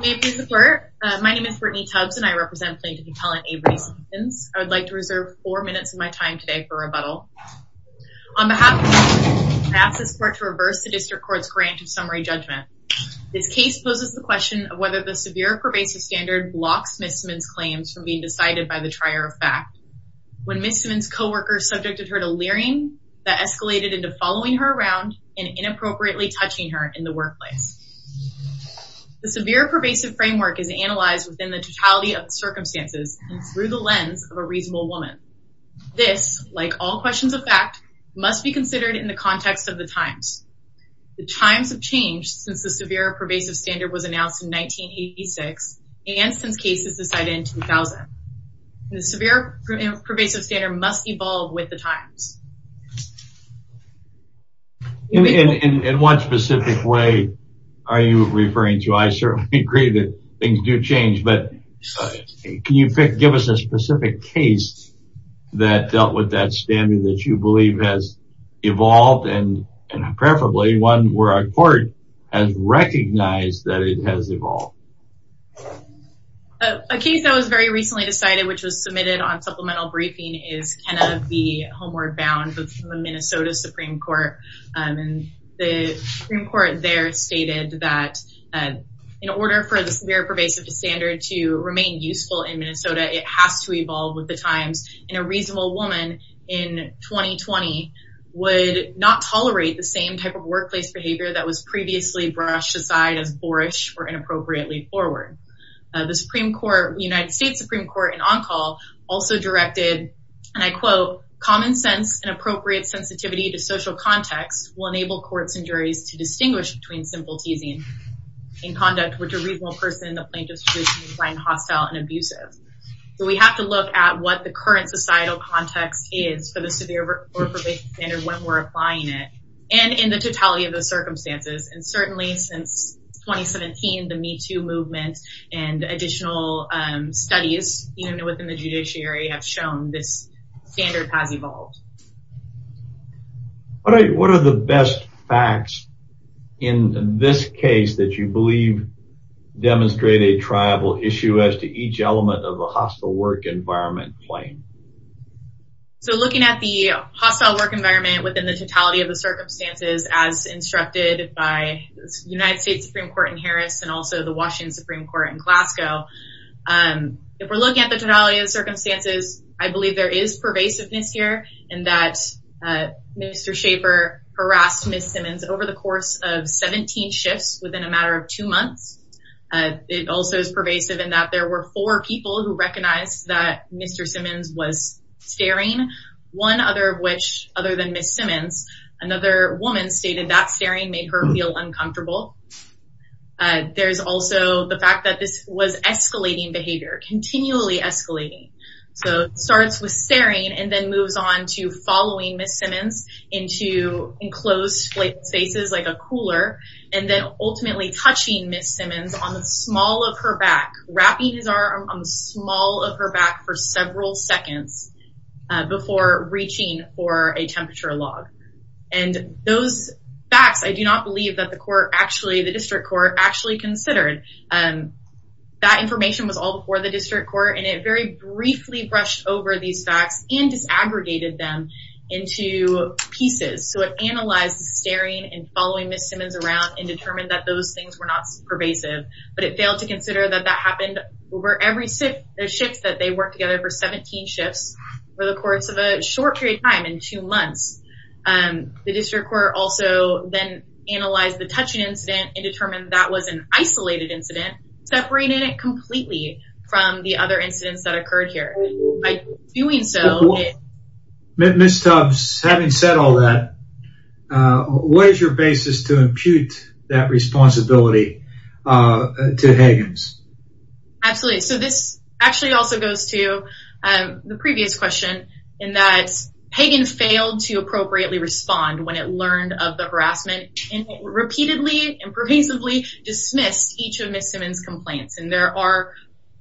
May it please the Court, my name is Brittany Tubbs and I represent Plaintiff and Appellant Avery Simmons. I would like to reserve four minutes of my time today for rebuttal. On behalf of the District Court, I ask this Court to reverse the District Court's grant of summary judgment. This case poses the question of whether the severe pervasive standard blocks Miss Simmons' claims from being decided by the trier of fact. When Miss Simmons' co-worker subjected her to leering that escalated into following her around and inappropriately touching her in the workplace. The severe pervasive framework is analyzed within the totality of the circumstances and through the lens of a reasonable woman. This, like all questions of fact, must be considered in the context of the times. The times have changed since the severe pervasive standard was announced in 1986 and since cases decided in 2000. The severe pervasive standard must evolve with the times. In what specific way are you referring to? I certainly agree that things do change. But can you give us a specific case that dealt with that standard that you believe has evolved? And preferably one where our Court has recognized that it has evolved. A case that was very recently decided which was submitted on supplemental briefing is Kenna B. Homeward Bound from the Minnesota Supreme Court. The Supreme Court there stated that in order for the severe pervasive standard to remain useful in Minnesota, it has to evolve with the times. And a reasonable woman in 2020 would not tolerate the same type of workplace behavior that was previously brushed aside as boorish or inappropriately forward. The United States Supreme Court in on-call also directed, and I quote, Common sense and appropriate sensitivity to social context will enable courts and juries to distinguish between simple teasing and conduct which a reasonable person in the plaintiff's position would find hostile and abusive. So we have to look at what the current societal context is for the severe pervasive standard when we're applying it and in the totality of the circumstances. And certainly since 2017, the Me Too movement and additional studies within the judiciary have shown this standard has evolved. What are the best facts in this case that you believe demonstrate a tribal issue as to each element of a hostile work environment claim? So looking at the hostile work environment within the totality of the circumstances as instructed by the United States Supreme Court in Harris and also the Washington Supreme Court in Glasgow. If we're looking at the totality of the circumstances, I believe there is pervasiveness here and that Mr. Schaefer harassed Ms. Simmons over the course of 17 shifts within a matter of two months. It also is pervasive in that there were four people who recognized that Mr. Simmons was staring, one other of which, other than Ms. Simmons, another woman stated that staring made her feel uncomfortable. There's also the fact that this was escalating behavior, continually escalating. So it starts with staring and then moves on to following Ms. Simmons into enclosed spaces like a cooler and then ultimately touching Ms. Simmons on the small of her back, wrapping his arm on the small of her back for several seconds before reaching for a temperature log. And those facts, I do not believe that the district court actually considered. That information was all before the district court and it very briefly brushed over these facts and disaggregated them into pieces. So it analyzed staring and following Ms. Simmons around and determined that those things were not pervasive. But it failed to consider that that happened over every shift that they worked together for 17 shifts over the course of a short period of time, in two months. The district court also then analyzed the touching incident and determined that was an isolated incident, separating it completely from the other incidents that occurred here. Ms. Tubbs, having said all that, what is your basis to impute that responsibility to Higgins? Absolutely. So this actually also goes to the previous question in that Higgins failed to appropriately respond when it learned of the harassment and repeatedly and pervasively dismissed each of Ms. Simmons' complaints. And there are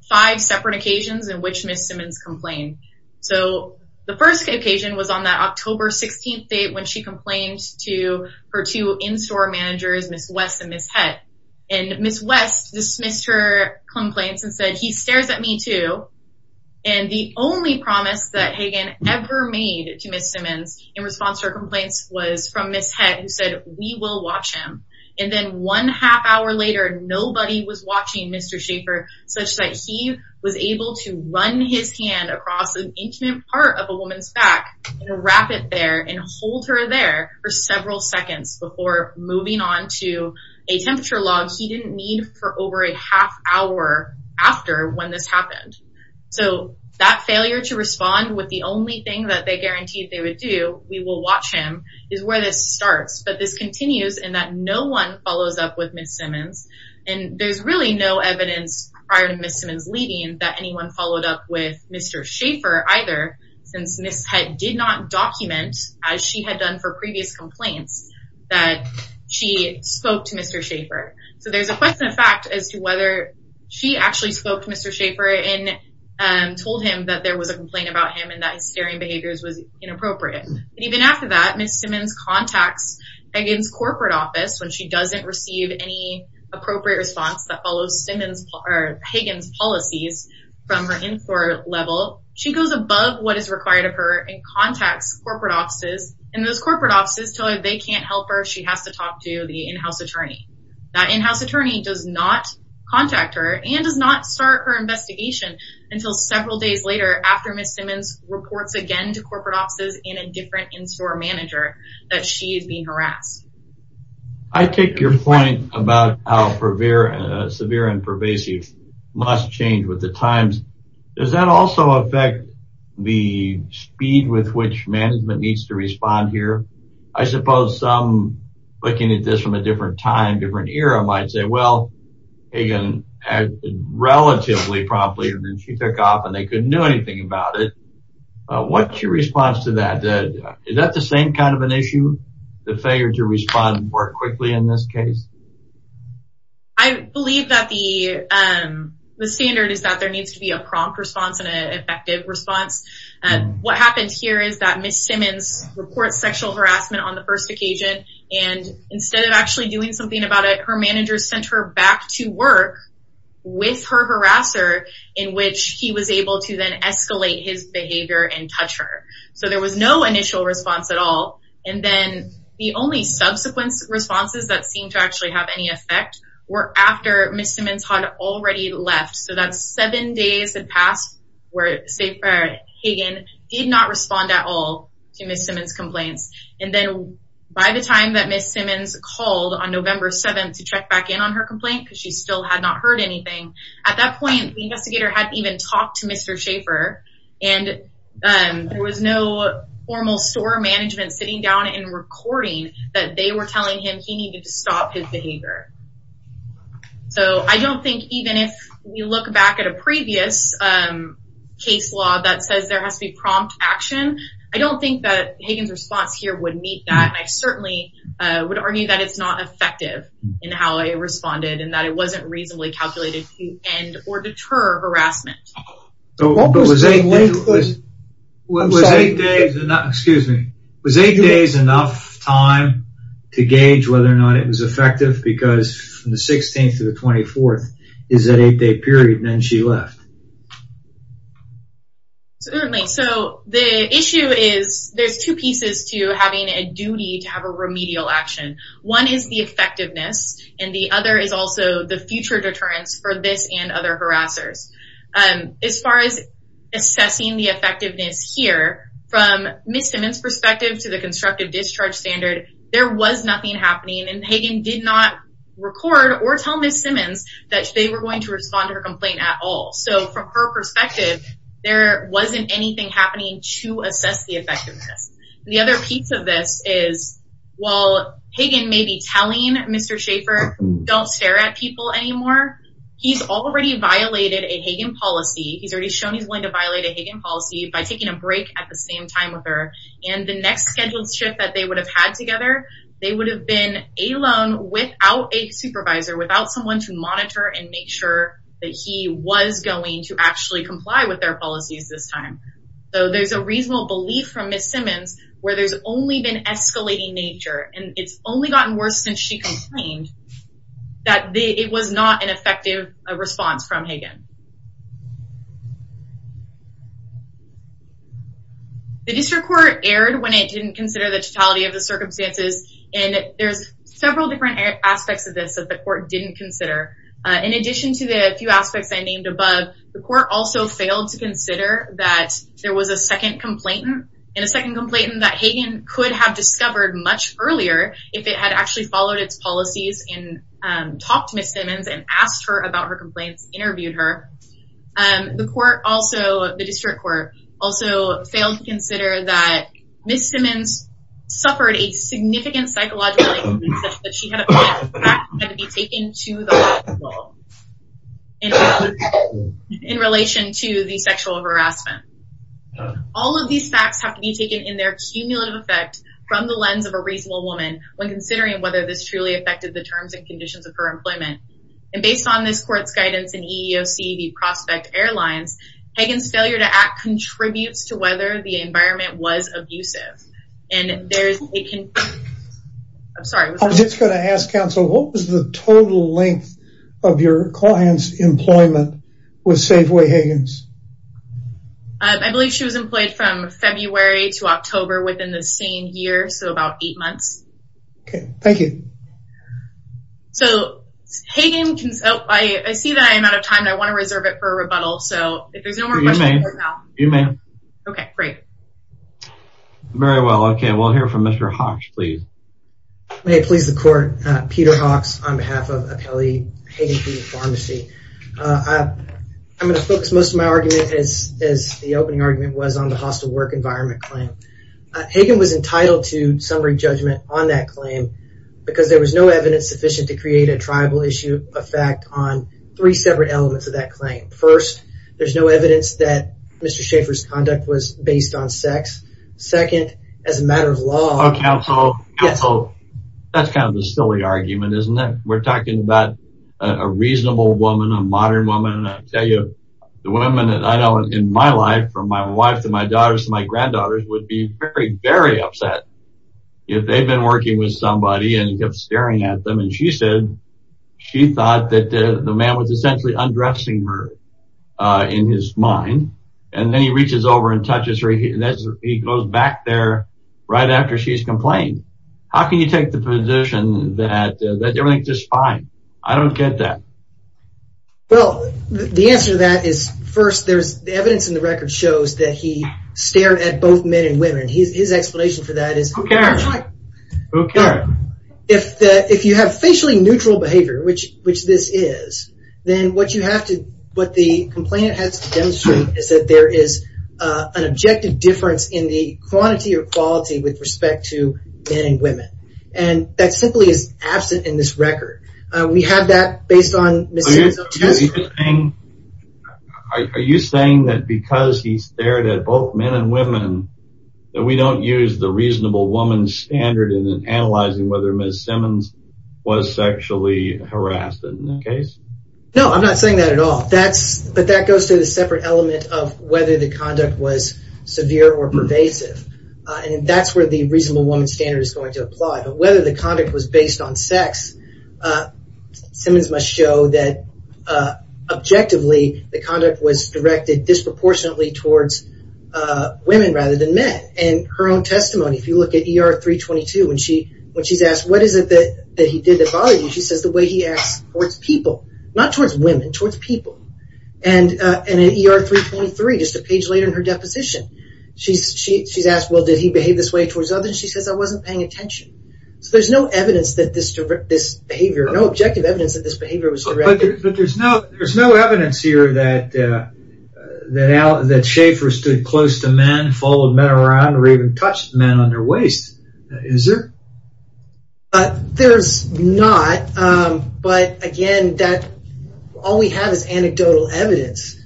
five separate occasions in which Ms. Simmons complained. So the first occasion was on that October 16th date when she complained to her two in-store managers, Ms. West and Ms. Hett. And Ms. West dismissed her complaints and said, he stares at me too. And the only promise that Higgins ever made to Ms. Simmons in response to her complaints was from Ms. Hett who said, we will watch him. And then one half hour later, nobody was watching Mr. Schaefer such that he was able to run his hand across an intimate part of a woman's back and wrap it there and hold her there for several seconds before moving on to a temperature log he didn't need for over a half hour after when this happened. So that failure to respond with the only thing that they guaranteed they would do, we will watch him, is where this starts. But this continues in that no one follows up with Ms. Simmons. And there's really no evidence prior to Ms. Simmons leaving that anyone followed up with Mr. Schaefer either since Ms. Hett did not document, as she had done for previous complaints, that she spoke to Mr. Schaefer. So there's a question of fact as to whether she actually spoke to Mr. Schaefer and told him that there was a complaint about him and that his staring behaviors was inappropriate. And even after that, Ms. Simmons contacts Hagan's corporate office when she doesn't receive any appropriate response that follows Hagan's policies from her in-court level. She goes above what is required of her and contacts corporate offices. And those corporate offices tell her they can't help her. She has to talk to the in-house attorney. That in-house attorney does not contact her and does not start her investigation until several days later after Ms. Simmons reports again to corporate offices and a different in-store manager that she is being harassed. I take your point about how severe and pervasive must change with the times. Does that also affect the speed with which management needs to respond here? I suppose some looking at this from a different time, different era, might say, well, Hagan acted relatively promptly and then she took off and they couldn't do anything about it. What's your response to that? Is that the same kind of an issue, the failure to respond more quickly in this case? I believe that the standard is that there needs to be a prompt response and an effective response. What happened here is that Ms. Simmons reports sexual harassment on the first occasion. And instead of actually doing something about it, her manager sent her back to work with her harasser in which he was able to then escalate his behavior and touch her. So there was no initial response at all. And then the only subsequent responses that seemed to actually have any effect were after Ms. Simmons had already left. So that's seven days had passed where Hagan did not respond at all to Ms. Simmons' complaints. And then by the time that Ms. Simmons called on November 7th to check back in on her complaint, because she still had not heard anything, at that point the investigator hadn't even talked to Mr. Schaffer. And there was no formal store management sitting down and recording that they were telling him he needed to stop his behavior. So I don't think even if you look back at a previous case law that says there has to be prompt action, I don't think that Hagan's response here would meet that. And I certainly would argue that it's not effective in how it responded and that it wasn't reasonably calculated to end or deter harassment. But was eight days enough time to gauge whether or not it was effective? Because from the 16th to the 24th is that eight day period and then she left. So the issue is there's two pieces to having a duty to have a remedial action. One is the effectiveness and the other is also the future deterrence for this and other harassers. As far as assessing the effectiveness here, from Ms. Simmons' perspective to the constructive discharge standard, there was nothing happening. And Hagan did not record or tell Ms. Simmons that they were going to respond to her complaint at all. So from her perspective, there wasn't anything happening to assess the effectiveness. The other piece of this is while Hagan may be telling Mr. Schaefer don't stare at people anymore, he's already violated a Hagan policy. He's already shown he's willing to violate a Hagan policy by taking a break at the same time with her. And the next scheduled shift that they would have had together, they would have been alone without a supervisor, without someone to monitor and make sure that he was going to actually comply with their policies this time. So there's a reasonable belief from Ms. Simmons where there's only been escalating nature and it's only gotten worse since she complained that it was not an effective response from Hagan. The district court erred when it didn't consider the totality of the circumstances and there's several different aspects of this that the court didn't consider. In addition to the few aspects I named above, the court also failed to consider that there was a second complainant. And a second complainant that Hagan could have discovered much earlier if it had actually followed its policies and talked to Ms. Simmons and asked her about her complaints, interviewed her. The court also, the district court, also failed to consider that Ms. Simmons suffered a significant psychological injury such that she had to be taken to the hospital in relation to the sexual harassment. All of these facts have to be taken in their cumulative effect from the lens of a reasonable woman when considering whether this truly affected the terms and conditions of her employment. And based on this court's guidance in EEOC, the prospect airlines, Hagan's failure to act contributes to whether the environment was abusive. I'm just going to ask counsel, what was the total length of your client's employment with Safeway Hagan's? I believe she was employed from February to October within the same year, so about eight months. Okay, thank you. So, Hagan, I see that I'm out of time and I want to reserve it for a rebuttal, so if there's no more questions, you may. Okay, great. Very well, okay, we'll hear from Mr. Hawks, please. May it please the court, Peter Hawks on behalf of Apelli Hagan P.E. Pharmacy. I'm going to focus most of my argument as the opening argument was on the hostile work environment claim. Hagan was entitled to summary judgment on that claim because there was no evidence sufficient to create a tribal issue effect on three separate elements of that claim. First, there's no evidence that Mr. Schaeffer's conduct was based on sex. Second, as a matter of law... Oh, counsel, counsel, that's kind of a silly argument, isn't it? We're talking about a reasonable woman, a modern woman, and I tell you, the women that I know in my life, from my wife to my daughters to my granddaughters, would be very, very upset if they've been working with somebody and kept staring at them. And she said she thought that the man was essentially undressing her in his mind. And then he reaches over and touches her, and he goes back there right after she's complained. How can you take the position that everything's just fine? I don't get that. Well, the answer to that is, first, there's evidence in the record shows that he stared at both men and women. His explanation for that is... Who cares? Who cares? If you have facially neutral behavior, which this is, then what you have to... What the complainant has to demonstrate is that there is an objective difference in the quantity or quality with respect to men and women. And that simply is absent in this record. Are you saying that because he stared at both men and women, that we don't use the reasonable woman standard in analyzing whether Ms. Simmons was sexually harassed in that case? No, I'm not saying that at all. But that goes to the separate element of whether the conduct was severe or pervasive. And that's where the reasonable woman standard is going to apply. But whether the conduct was based on sex, Simmons must show that, objectively, the conduct was directed disproportionately towards women rather than men. In her own testimony, if you look at ER-322, when she's asked, what is it that he did that bothered you? She says the way he acts towards people. Not towards women, towards people. And in ER-323, just a page later in her deposition, she's asked, well, did he behave this way towards others? And she says, I wasn't paying attention. So there's no evidence that this behavior, no objective evidence that this behavior was directed. But there's no evidence here that Schaefer stood close to men, followed men around, or even touched men on their waist, is there? There's not. But, again, all we have is anecdotal evidence.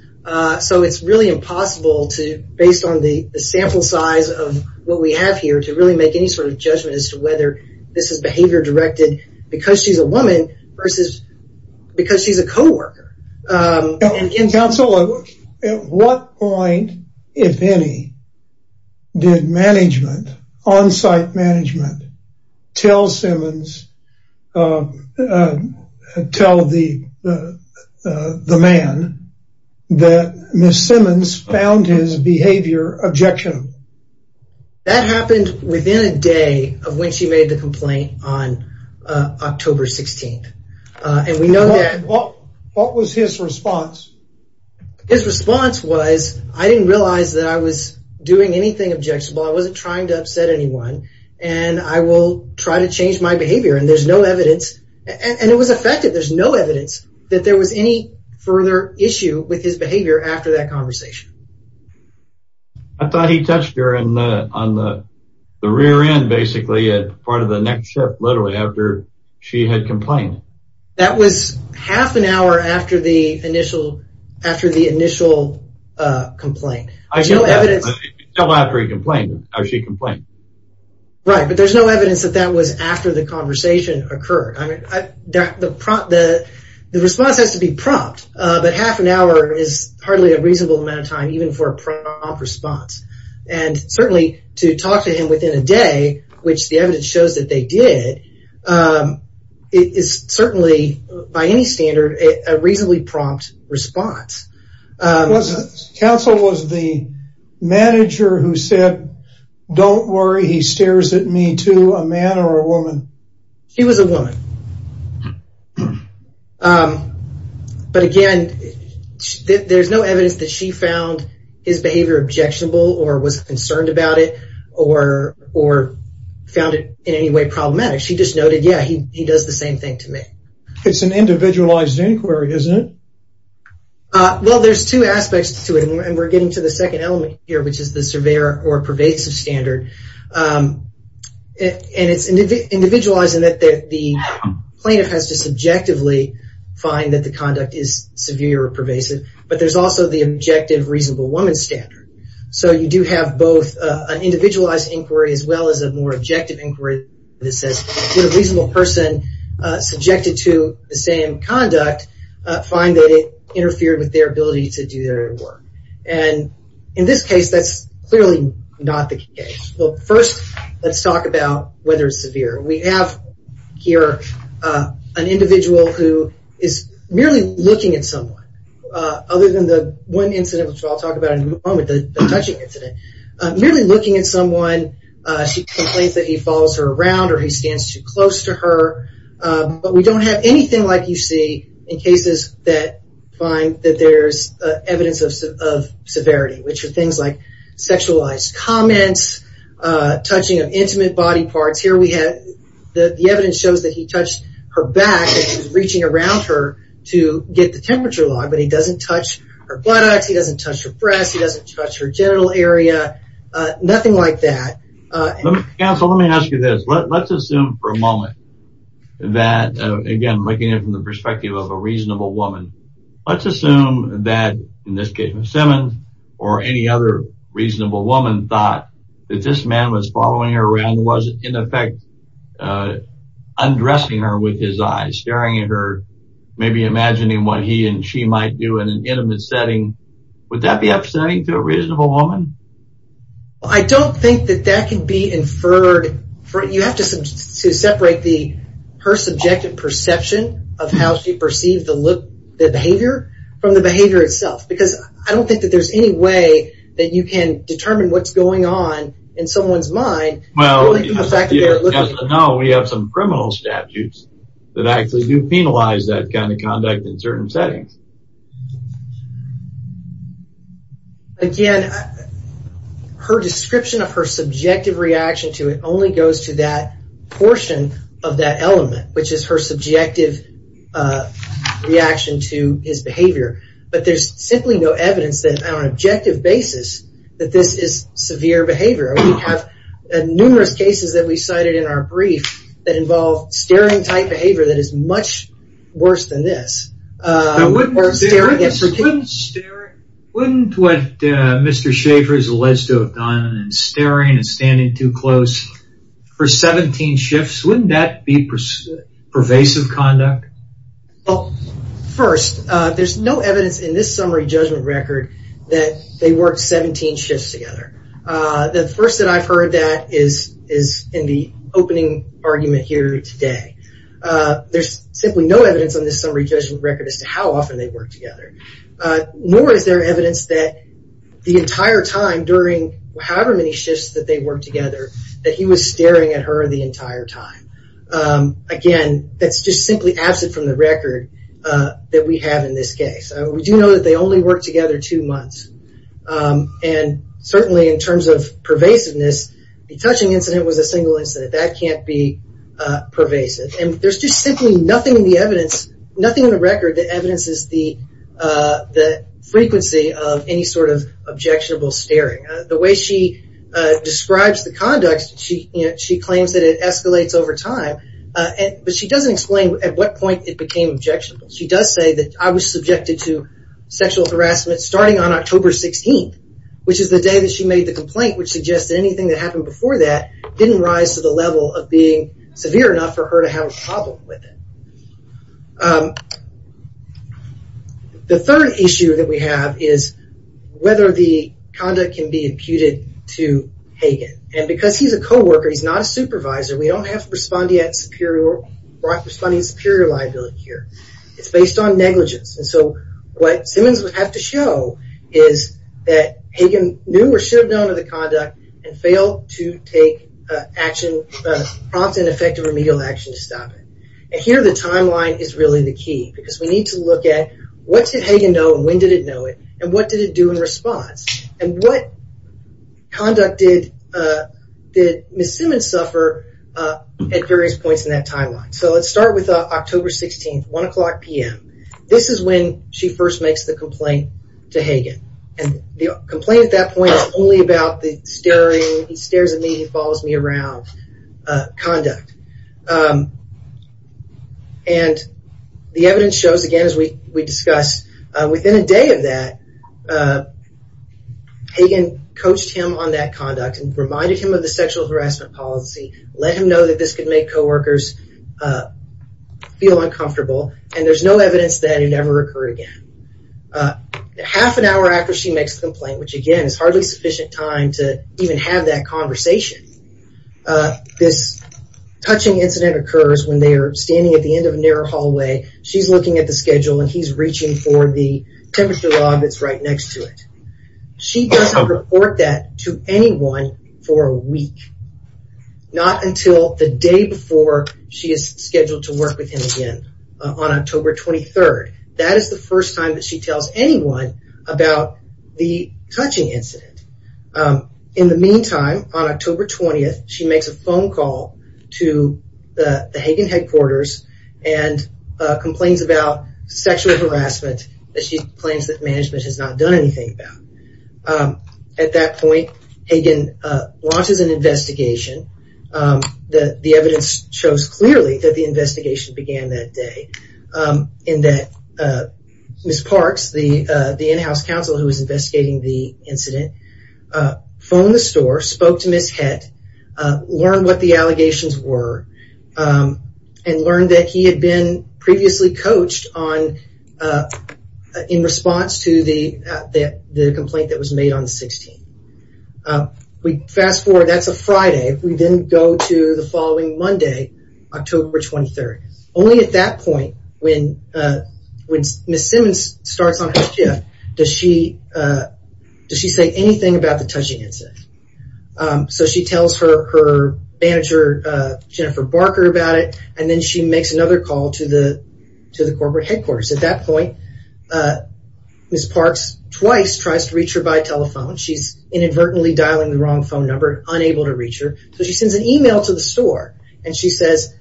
So it's really impossible to, based on the sample size of what we have here, to really make any sort of judgment as to whether this is behavior directed because she's a woman versus because she's a co-worker. Counsel, at what point, if any, did management, on-site management, tell Simmons, tell the man that Ms. Simmons found his behavior objectionable? That happened within a day of when she made the complaint on October 16th. What was his response? His response was, I didn't realize that I was doing anything objectionable. I wasn't trying to upset anyone. And I will try to change my behavior. And there's no evidence. And it was effective. There's no evidence that there was any further issue with his behavior after that conversation. I thought he touched her on the rear end, basically, at part of the next shift, literally, after she had complained. That was half an hour after the initial complaint. There's no evidence. Until after he complained, or she complained. Right. But there's no evidence that that was after the conversation occurred. The response has to be prompt. But half an hour is hardly a reasonable amount of time, even for a prompt response. And certainly, to talk to him within a day, which the evidence shows that they did, is certainly, by any standard, a reasonably prompt response. Counsel, was the manager who said, don't worry, he stares at me, too, a man or a woman? He was a woman. But again, there's no evidence that she found his behavior objectionable, or was concerned about it, or found it in any way problematic. She just noted, yeah, he does the same thing to me. It's an individualized inquiry, isn't it? Well, there's two aspects to it. And we're getting to the second element here, which is the severe or pervasive standard. And it's individualized in that the plaintiff has to subjectively find that the conduct is severe or pervasive. But there's also the objective reasonable woman standard. So you do have both an individualized inquiry, as well as a more objective inquiry that says, did a reasonable person subjected to the same conduct find that it interfered with their ability to do their work? And in this case, that's clearly not the case. Well, first, let's talk about whether it's severe. We have here an individual who is merely looking at someone. Other than the one incident which I'll talk about in a moment, the touching incident. Merely looking at someone, she complains that he follows her around or he stands too close to her. But we don't have anything like you see in cases that find that there's evidence of severity, which are things like sexualized comments, touching of intimate body parts. Here we have the evidence shows that he touched her back and was reaching around her to get the temperature log, but he doesn't touch her buttocks. He doesn't touch her breasts. He doesn't touch her genital area. Nothing like that. Counsel, let me ask you this. Let's assume for a moment that, again, looking at it from the perspective of a reasonable woman, let's assume that, in this case, Simmons or any other reasonable woman thought that this man was following her around, was, in effect, undressing her with his eyes, staring at her, maybe imagining what he and she might do in an intimate setting. Would that be upsetting to a reasonable woman? I don't think that that can be inferred. You have to separate her subjective perception of how she perceived the behavior from the behavior itself because I don't think that there's any way that you can determine what's going on in someone's mind. Well, as of now, we have some criminal statutes that actually do penalize that kind of conduct in certain settings. Again, her description of her subjective reaction to it only goes to that portion of that element, which is her subjective reaction to his behavior, but there's simply no evidence that, on an objective basis, that this is severe behavior. We have numerous cases that we cited in our brief that involve staring-type behavior that is much worse than this. Wouldn't what Mr. Schaffer has alleged to have done in staring and standing too close for 17 shifts, wouldn't that be pervasive conduct? Well, first, there's no evidence in this summary judgment record that they worked 17 shifts together. The first that I've heard that is in the opening argument here today. There's simply no evidence on this summary judgment record as to how often they worked together, nor is there evidence that the entire time during however many shifts that they worked together, that he was staring at her the entire time. Again, that's just simply absent from the record that we have in this case. We do know that they only worked together two months, and certainly in terms of pervasiveness, the touching incident was a single incident. That can't be pervasive. There's just simply nothing in the record that evidences the frequency of any sort of objectionable staring. The way she describes the conduct, she claims that it escalates over time, but she doesn't explain at what point it became objectionable. She does say that I was subjected to sexual harassment starting on October 16th, which is the day that she made the complaint, which suggests that anything that happened before that didn't rise to the level of being severe enough for her to have a problem with it. The third issue that we have is whether the conduct can be imputed to Hagen. Because he's a co-worker, he's not a supervisor, we don't have responding superior liability here. It's based on negligence. What Simmons would have to show is that Hagen knew or should have known of the conduct and failed to take prompt and effective remedial action to stop it. Here the timeline is really the key because we need to look at what did Hagen know and when did it know it, and what did it do in response, and what conduct did Ms. Simmons suffer at various points in that timeline. Let's start with October 16th, 1 o'clock p.m. This is when she first makes the complaint to Hagen. The complaint at that point is only about the staring, he stares at me, he follows me around conduct. The evidence shows, again, as we discussed, within a day of that, Hagen coached him on that conduct and reminded him of the sexual harassment policy, let him know that this could make co-workers feel uncomfortable. And there's no evidence that it never occurred again. Half an hour after she makes the complaint, which again is hardly sufficient time to even have that conversation, this touching incident occurs when they are standing at the end of a narrow hallway, she's looking at the schedule and he's reaching for the temperature log that's right next to it. She doesn't report that to anyone for a week. Not until the day before she is scheduled to work with him again on October 23rd. That is the first time that she tells anyone about the touching incident. In the meantime, on October 20th, she makes a phone call to the Hagen headquarters and complains about sexual harassment that she claims that management has not done anything about. At that point, Hagen launches an investigation. The evidence shows clearly that the investigation began that day. Ms. Parks, the in-house counsel who was investigating the incident, phoned the store, spoke to Ms. Hett, learned what the allegations were, and learned that he had been previously coached in response to the complaint that was made on the 16th. Fast forward, that's a Friday. We then go to the following Monday, October 23rd. Only at that point, when Ms. Simmons starts on her shift, does she say anything about the touching incident. She tells her manager, Jennifer Barker, about it. Then she makes another call to the corporate headquarters. At that point, Ms. Parks, twice, tries to reach her by telephone. She's inadvertently dialing the wrong phone number, unable to reach her. She sends an email to the store. She says,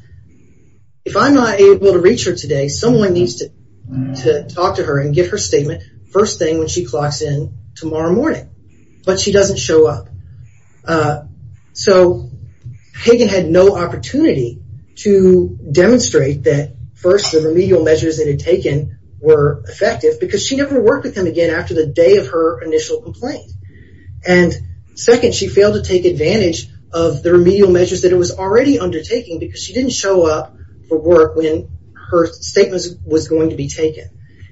if I'm not able to reach her today, someone needs to talk to her and give her a statement, first thing when she clocks in tomorrow morning. But she doesn't show up. So, Hagan had no opportunity to demonstrate that, first, the remedial measures that it had taken were effective, because she never worked with him again after the day of her initial complaint. And, second, she failed to take advantage of the remedial measures that it was already undertaking, because she didn't show up for work when her statement was going to be taken.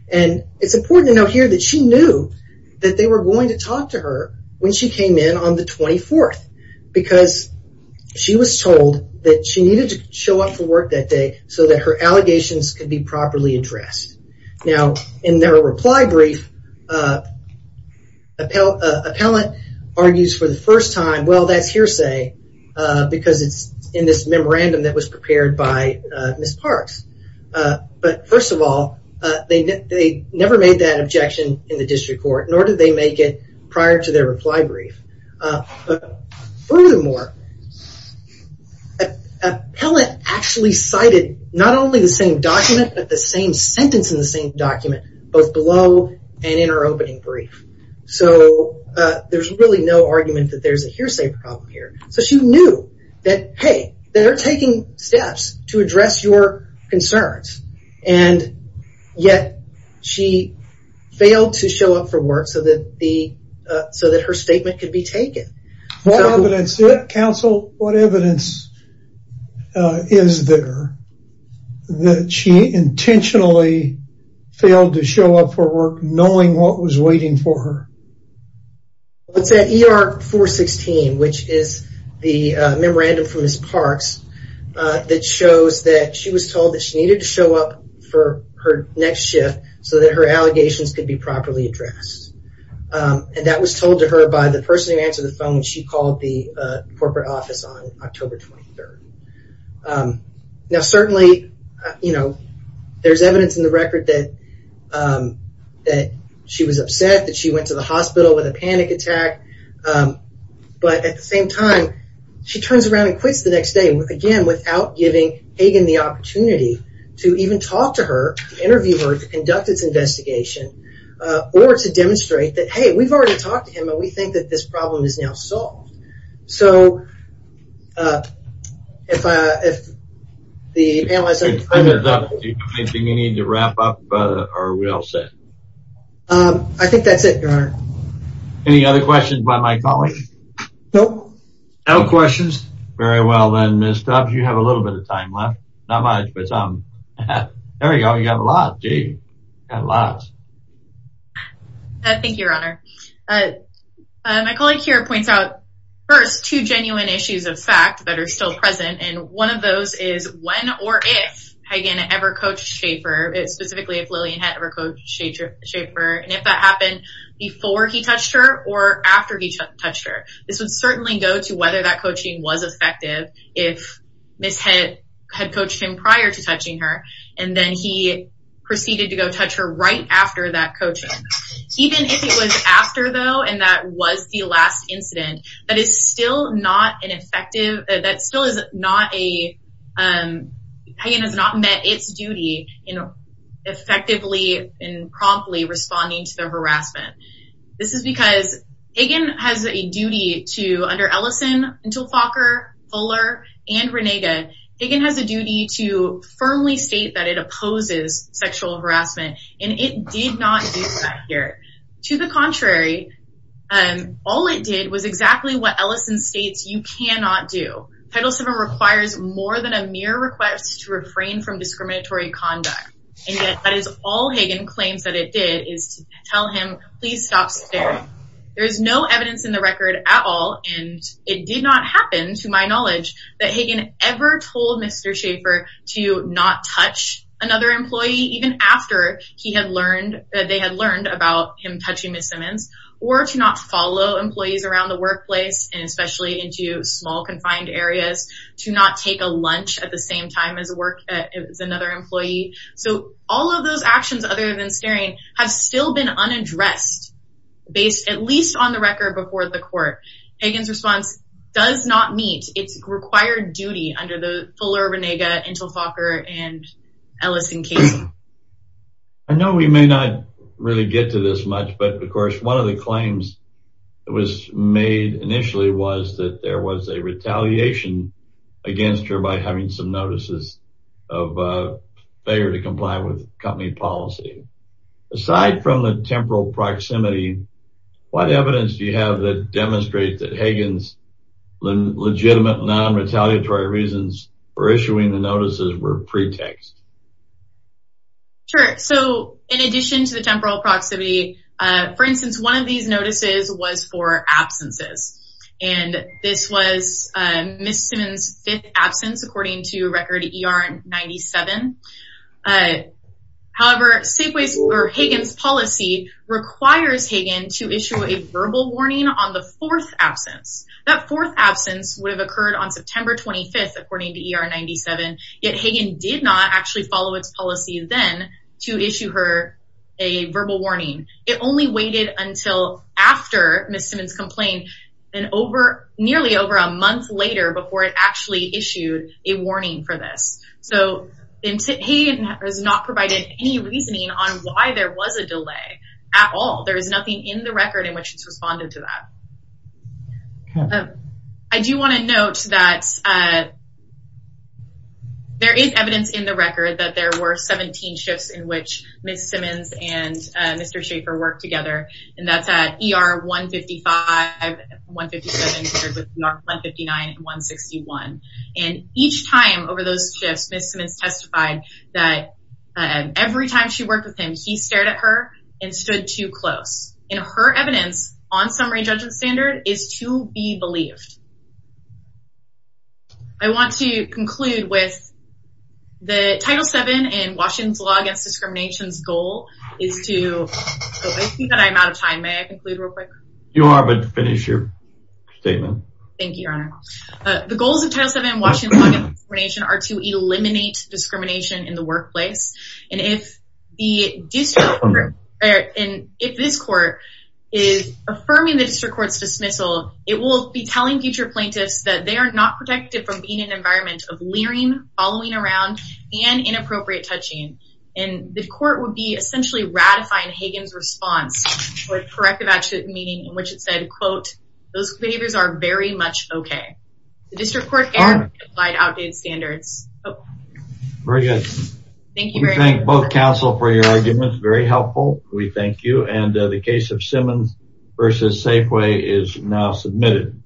It's important to note here that she knew that they were going to talk to her when she came in on the 24th, because she was told that she needed to show up for work that day so that her allegations could be properly addressed. Now, in their reply brief, an appellate argues for the first time, well, that's hearsay, because it's in this memorandum that was prepared by Ms. Parks. But, first of all, they never made that objection in the district court, nor did they make it prior to their reply brief. But, furthermore, an appellate actually cited not only the same document, but the same sentence in the same document, both below and in her opening brief. So, there's really no argument that there's a hearsay problem here. So, she knew that, hey, they're taking steps to address your concerns, and yet she failed to show up for work so that her statement could be taken. What evidence, counsel, what evidence is there that she intentionally failed to show up for work, knowing what was waiting for her? It's at ER 416, which is the memorandum from Ms. Parks, that shows that she was told that she needed to show up for her next shift so that her allegations could be properly addressed. And that was told to her by the person who answered the phone when she called the corporate office on October 23rd. Now, certainly, you know, there's evidence in the record that she was upset, that she went to the hospital with a panic attack. But, at the same time, she turns around and quits the next day, again, without giving Hagan the opportunity to even talk to her, to interview her, to conduct its investigation, or to demonstrate that, hey, we've already talked to him, and we think that this problem is now solved. So, if the panelists... If time is up, do you think you need to wrap up, or are we all set? I think that's it, Your Honor. Any other questions by my colleagues? No. No questions? Very well, then, Ms. Tubbs, you have a little bit of time left. Not much, but some. There you go, you have a lot, do you? You have lots. Thank you, Your Honor. My colleague here points out, first, two genuine issues of fact that are still present, and one of those is when or if Hagan ever coached Schaefer, specifically if Lillian had ever coached Schaefer, and if that happened before he touched her or after he touched her. This would certainly go to whether that coaching was effective, if Ms. had coached him prior to touching her, and then he proceeded to go touch her right after that coaching. Even if it was after, though, and that was the last incident, that is still not an effective, that still is not a, Hagan has not met its duty in effectively and promptly responding to the harassment. This is because Hagan has a duty to, under Ellison, until Falker, Fuller, and Renega, Hagan has a duty to firmly state that it opposes sexual harassment, and it did not do that here. To the contrary, all it did was exactly what Ellison states you cannot do. Title VII requires more than a mere request to refrain from discriminatory conduct, and yet that is all Hagan claims that it did, is to tell him, please stop staring. There is no evidence in the record at all, and it did not happen, to my knowledge, that Hagan ever told Mr. Schaefer to not touch another employee, even after he had learned, that they had learned about him touching Ms. Simmons, or to not follow employees around the workplace, and especially into small, confined areas, to not take a lunch at the same time as another employee. So all of those actions, other than staring, have still been unaddressed, based at least on the record before the court. Hagan's response does not meet its required duty under the Fuller, Renega, Intel, Falker, and Ellison cases. I know we may not really get to this much, but, of course, one of the claims that was made initially was that there was a retaliation against her by having some notices of failure to comply with company policy. Aside from the temporal proximity, what evidence do you have that demonstrates that Hagan's legitimate, non-retaliatory reasons for issuing the notices were pretext? Sure. So in addition to the temporal proximity, for instance, one of these notices was for absences, and this was Ms. Simmons' fifth absence, according to record ER 97. However, Hagan's policy requires Hagan to issue a verbal warning on the fourth absence. That fourth absence would have occurred on September 25th, according to ER 97, yet Hagan did not actually follow its policy then to issue her a verbal warning. It only waited until after Ms. Simmons' complaint, nearly over a month later before it actually issued a warning for this. So Hagan has not provided any reasoning on why there was a delay at all. There is nothing in the record in which it's responded to that. I do want to note that there is evidence in the record that there were 17 shifts in which Ms. Simmons and Mr. Schaffer worked together, and that's at ER 155, 157, 159, and 161. And each time over those shifts, Ms. Simmons testified that every time she worked with him, he stared at her and stood too close. And her evidence on summary judgment standard is to be believed. I want to conclude with the Title VII and Washington's Law Against Discrimination's goal is to... I think that I'm out of time. May I conclude real quick? Thank you, Your Honor. The goals of Title VII and Washington's Law Against Discrimination are to eliminate discrimination in the workplace. And if this court is affirming the district court's dismissal, it will be telling future plaintiffs that they are not protected from being in an environment of leering, following around, and inappropriate touching. And the court would be essentially ratifying Hagan's response with corrective action, meaning in which it said, quote, those behaviors are very much okay. The district court can apply outdated standards. Very good. Thank you very much. We thank both counsel for your arguments. Very helpful. We thank you. And the case of Simmons v. Safeway is now submitted.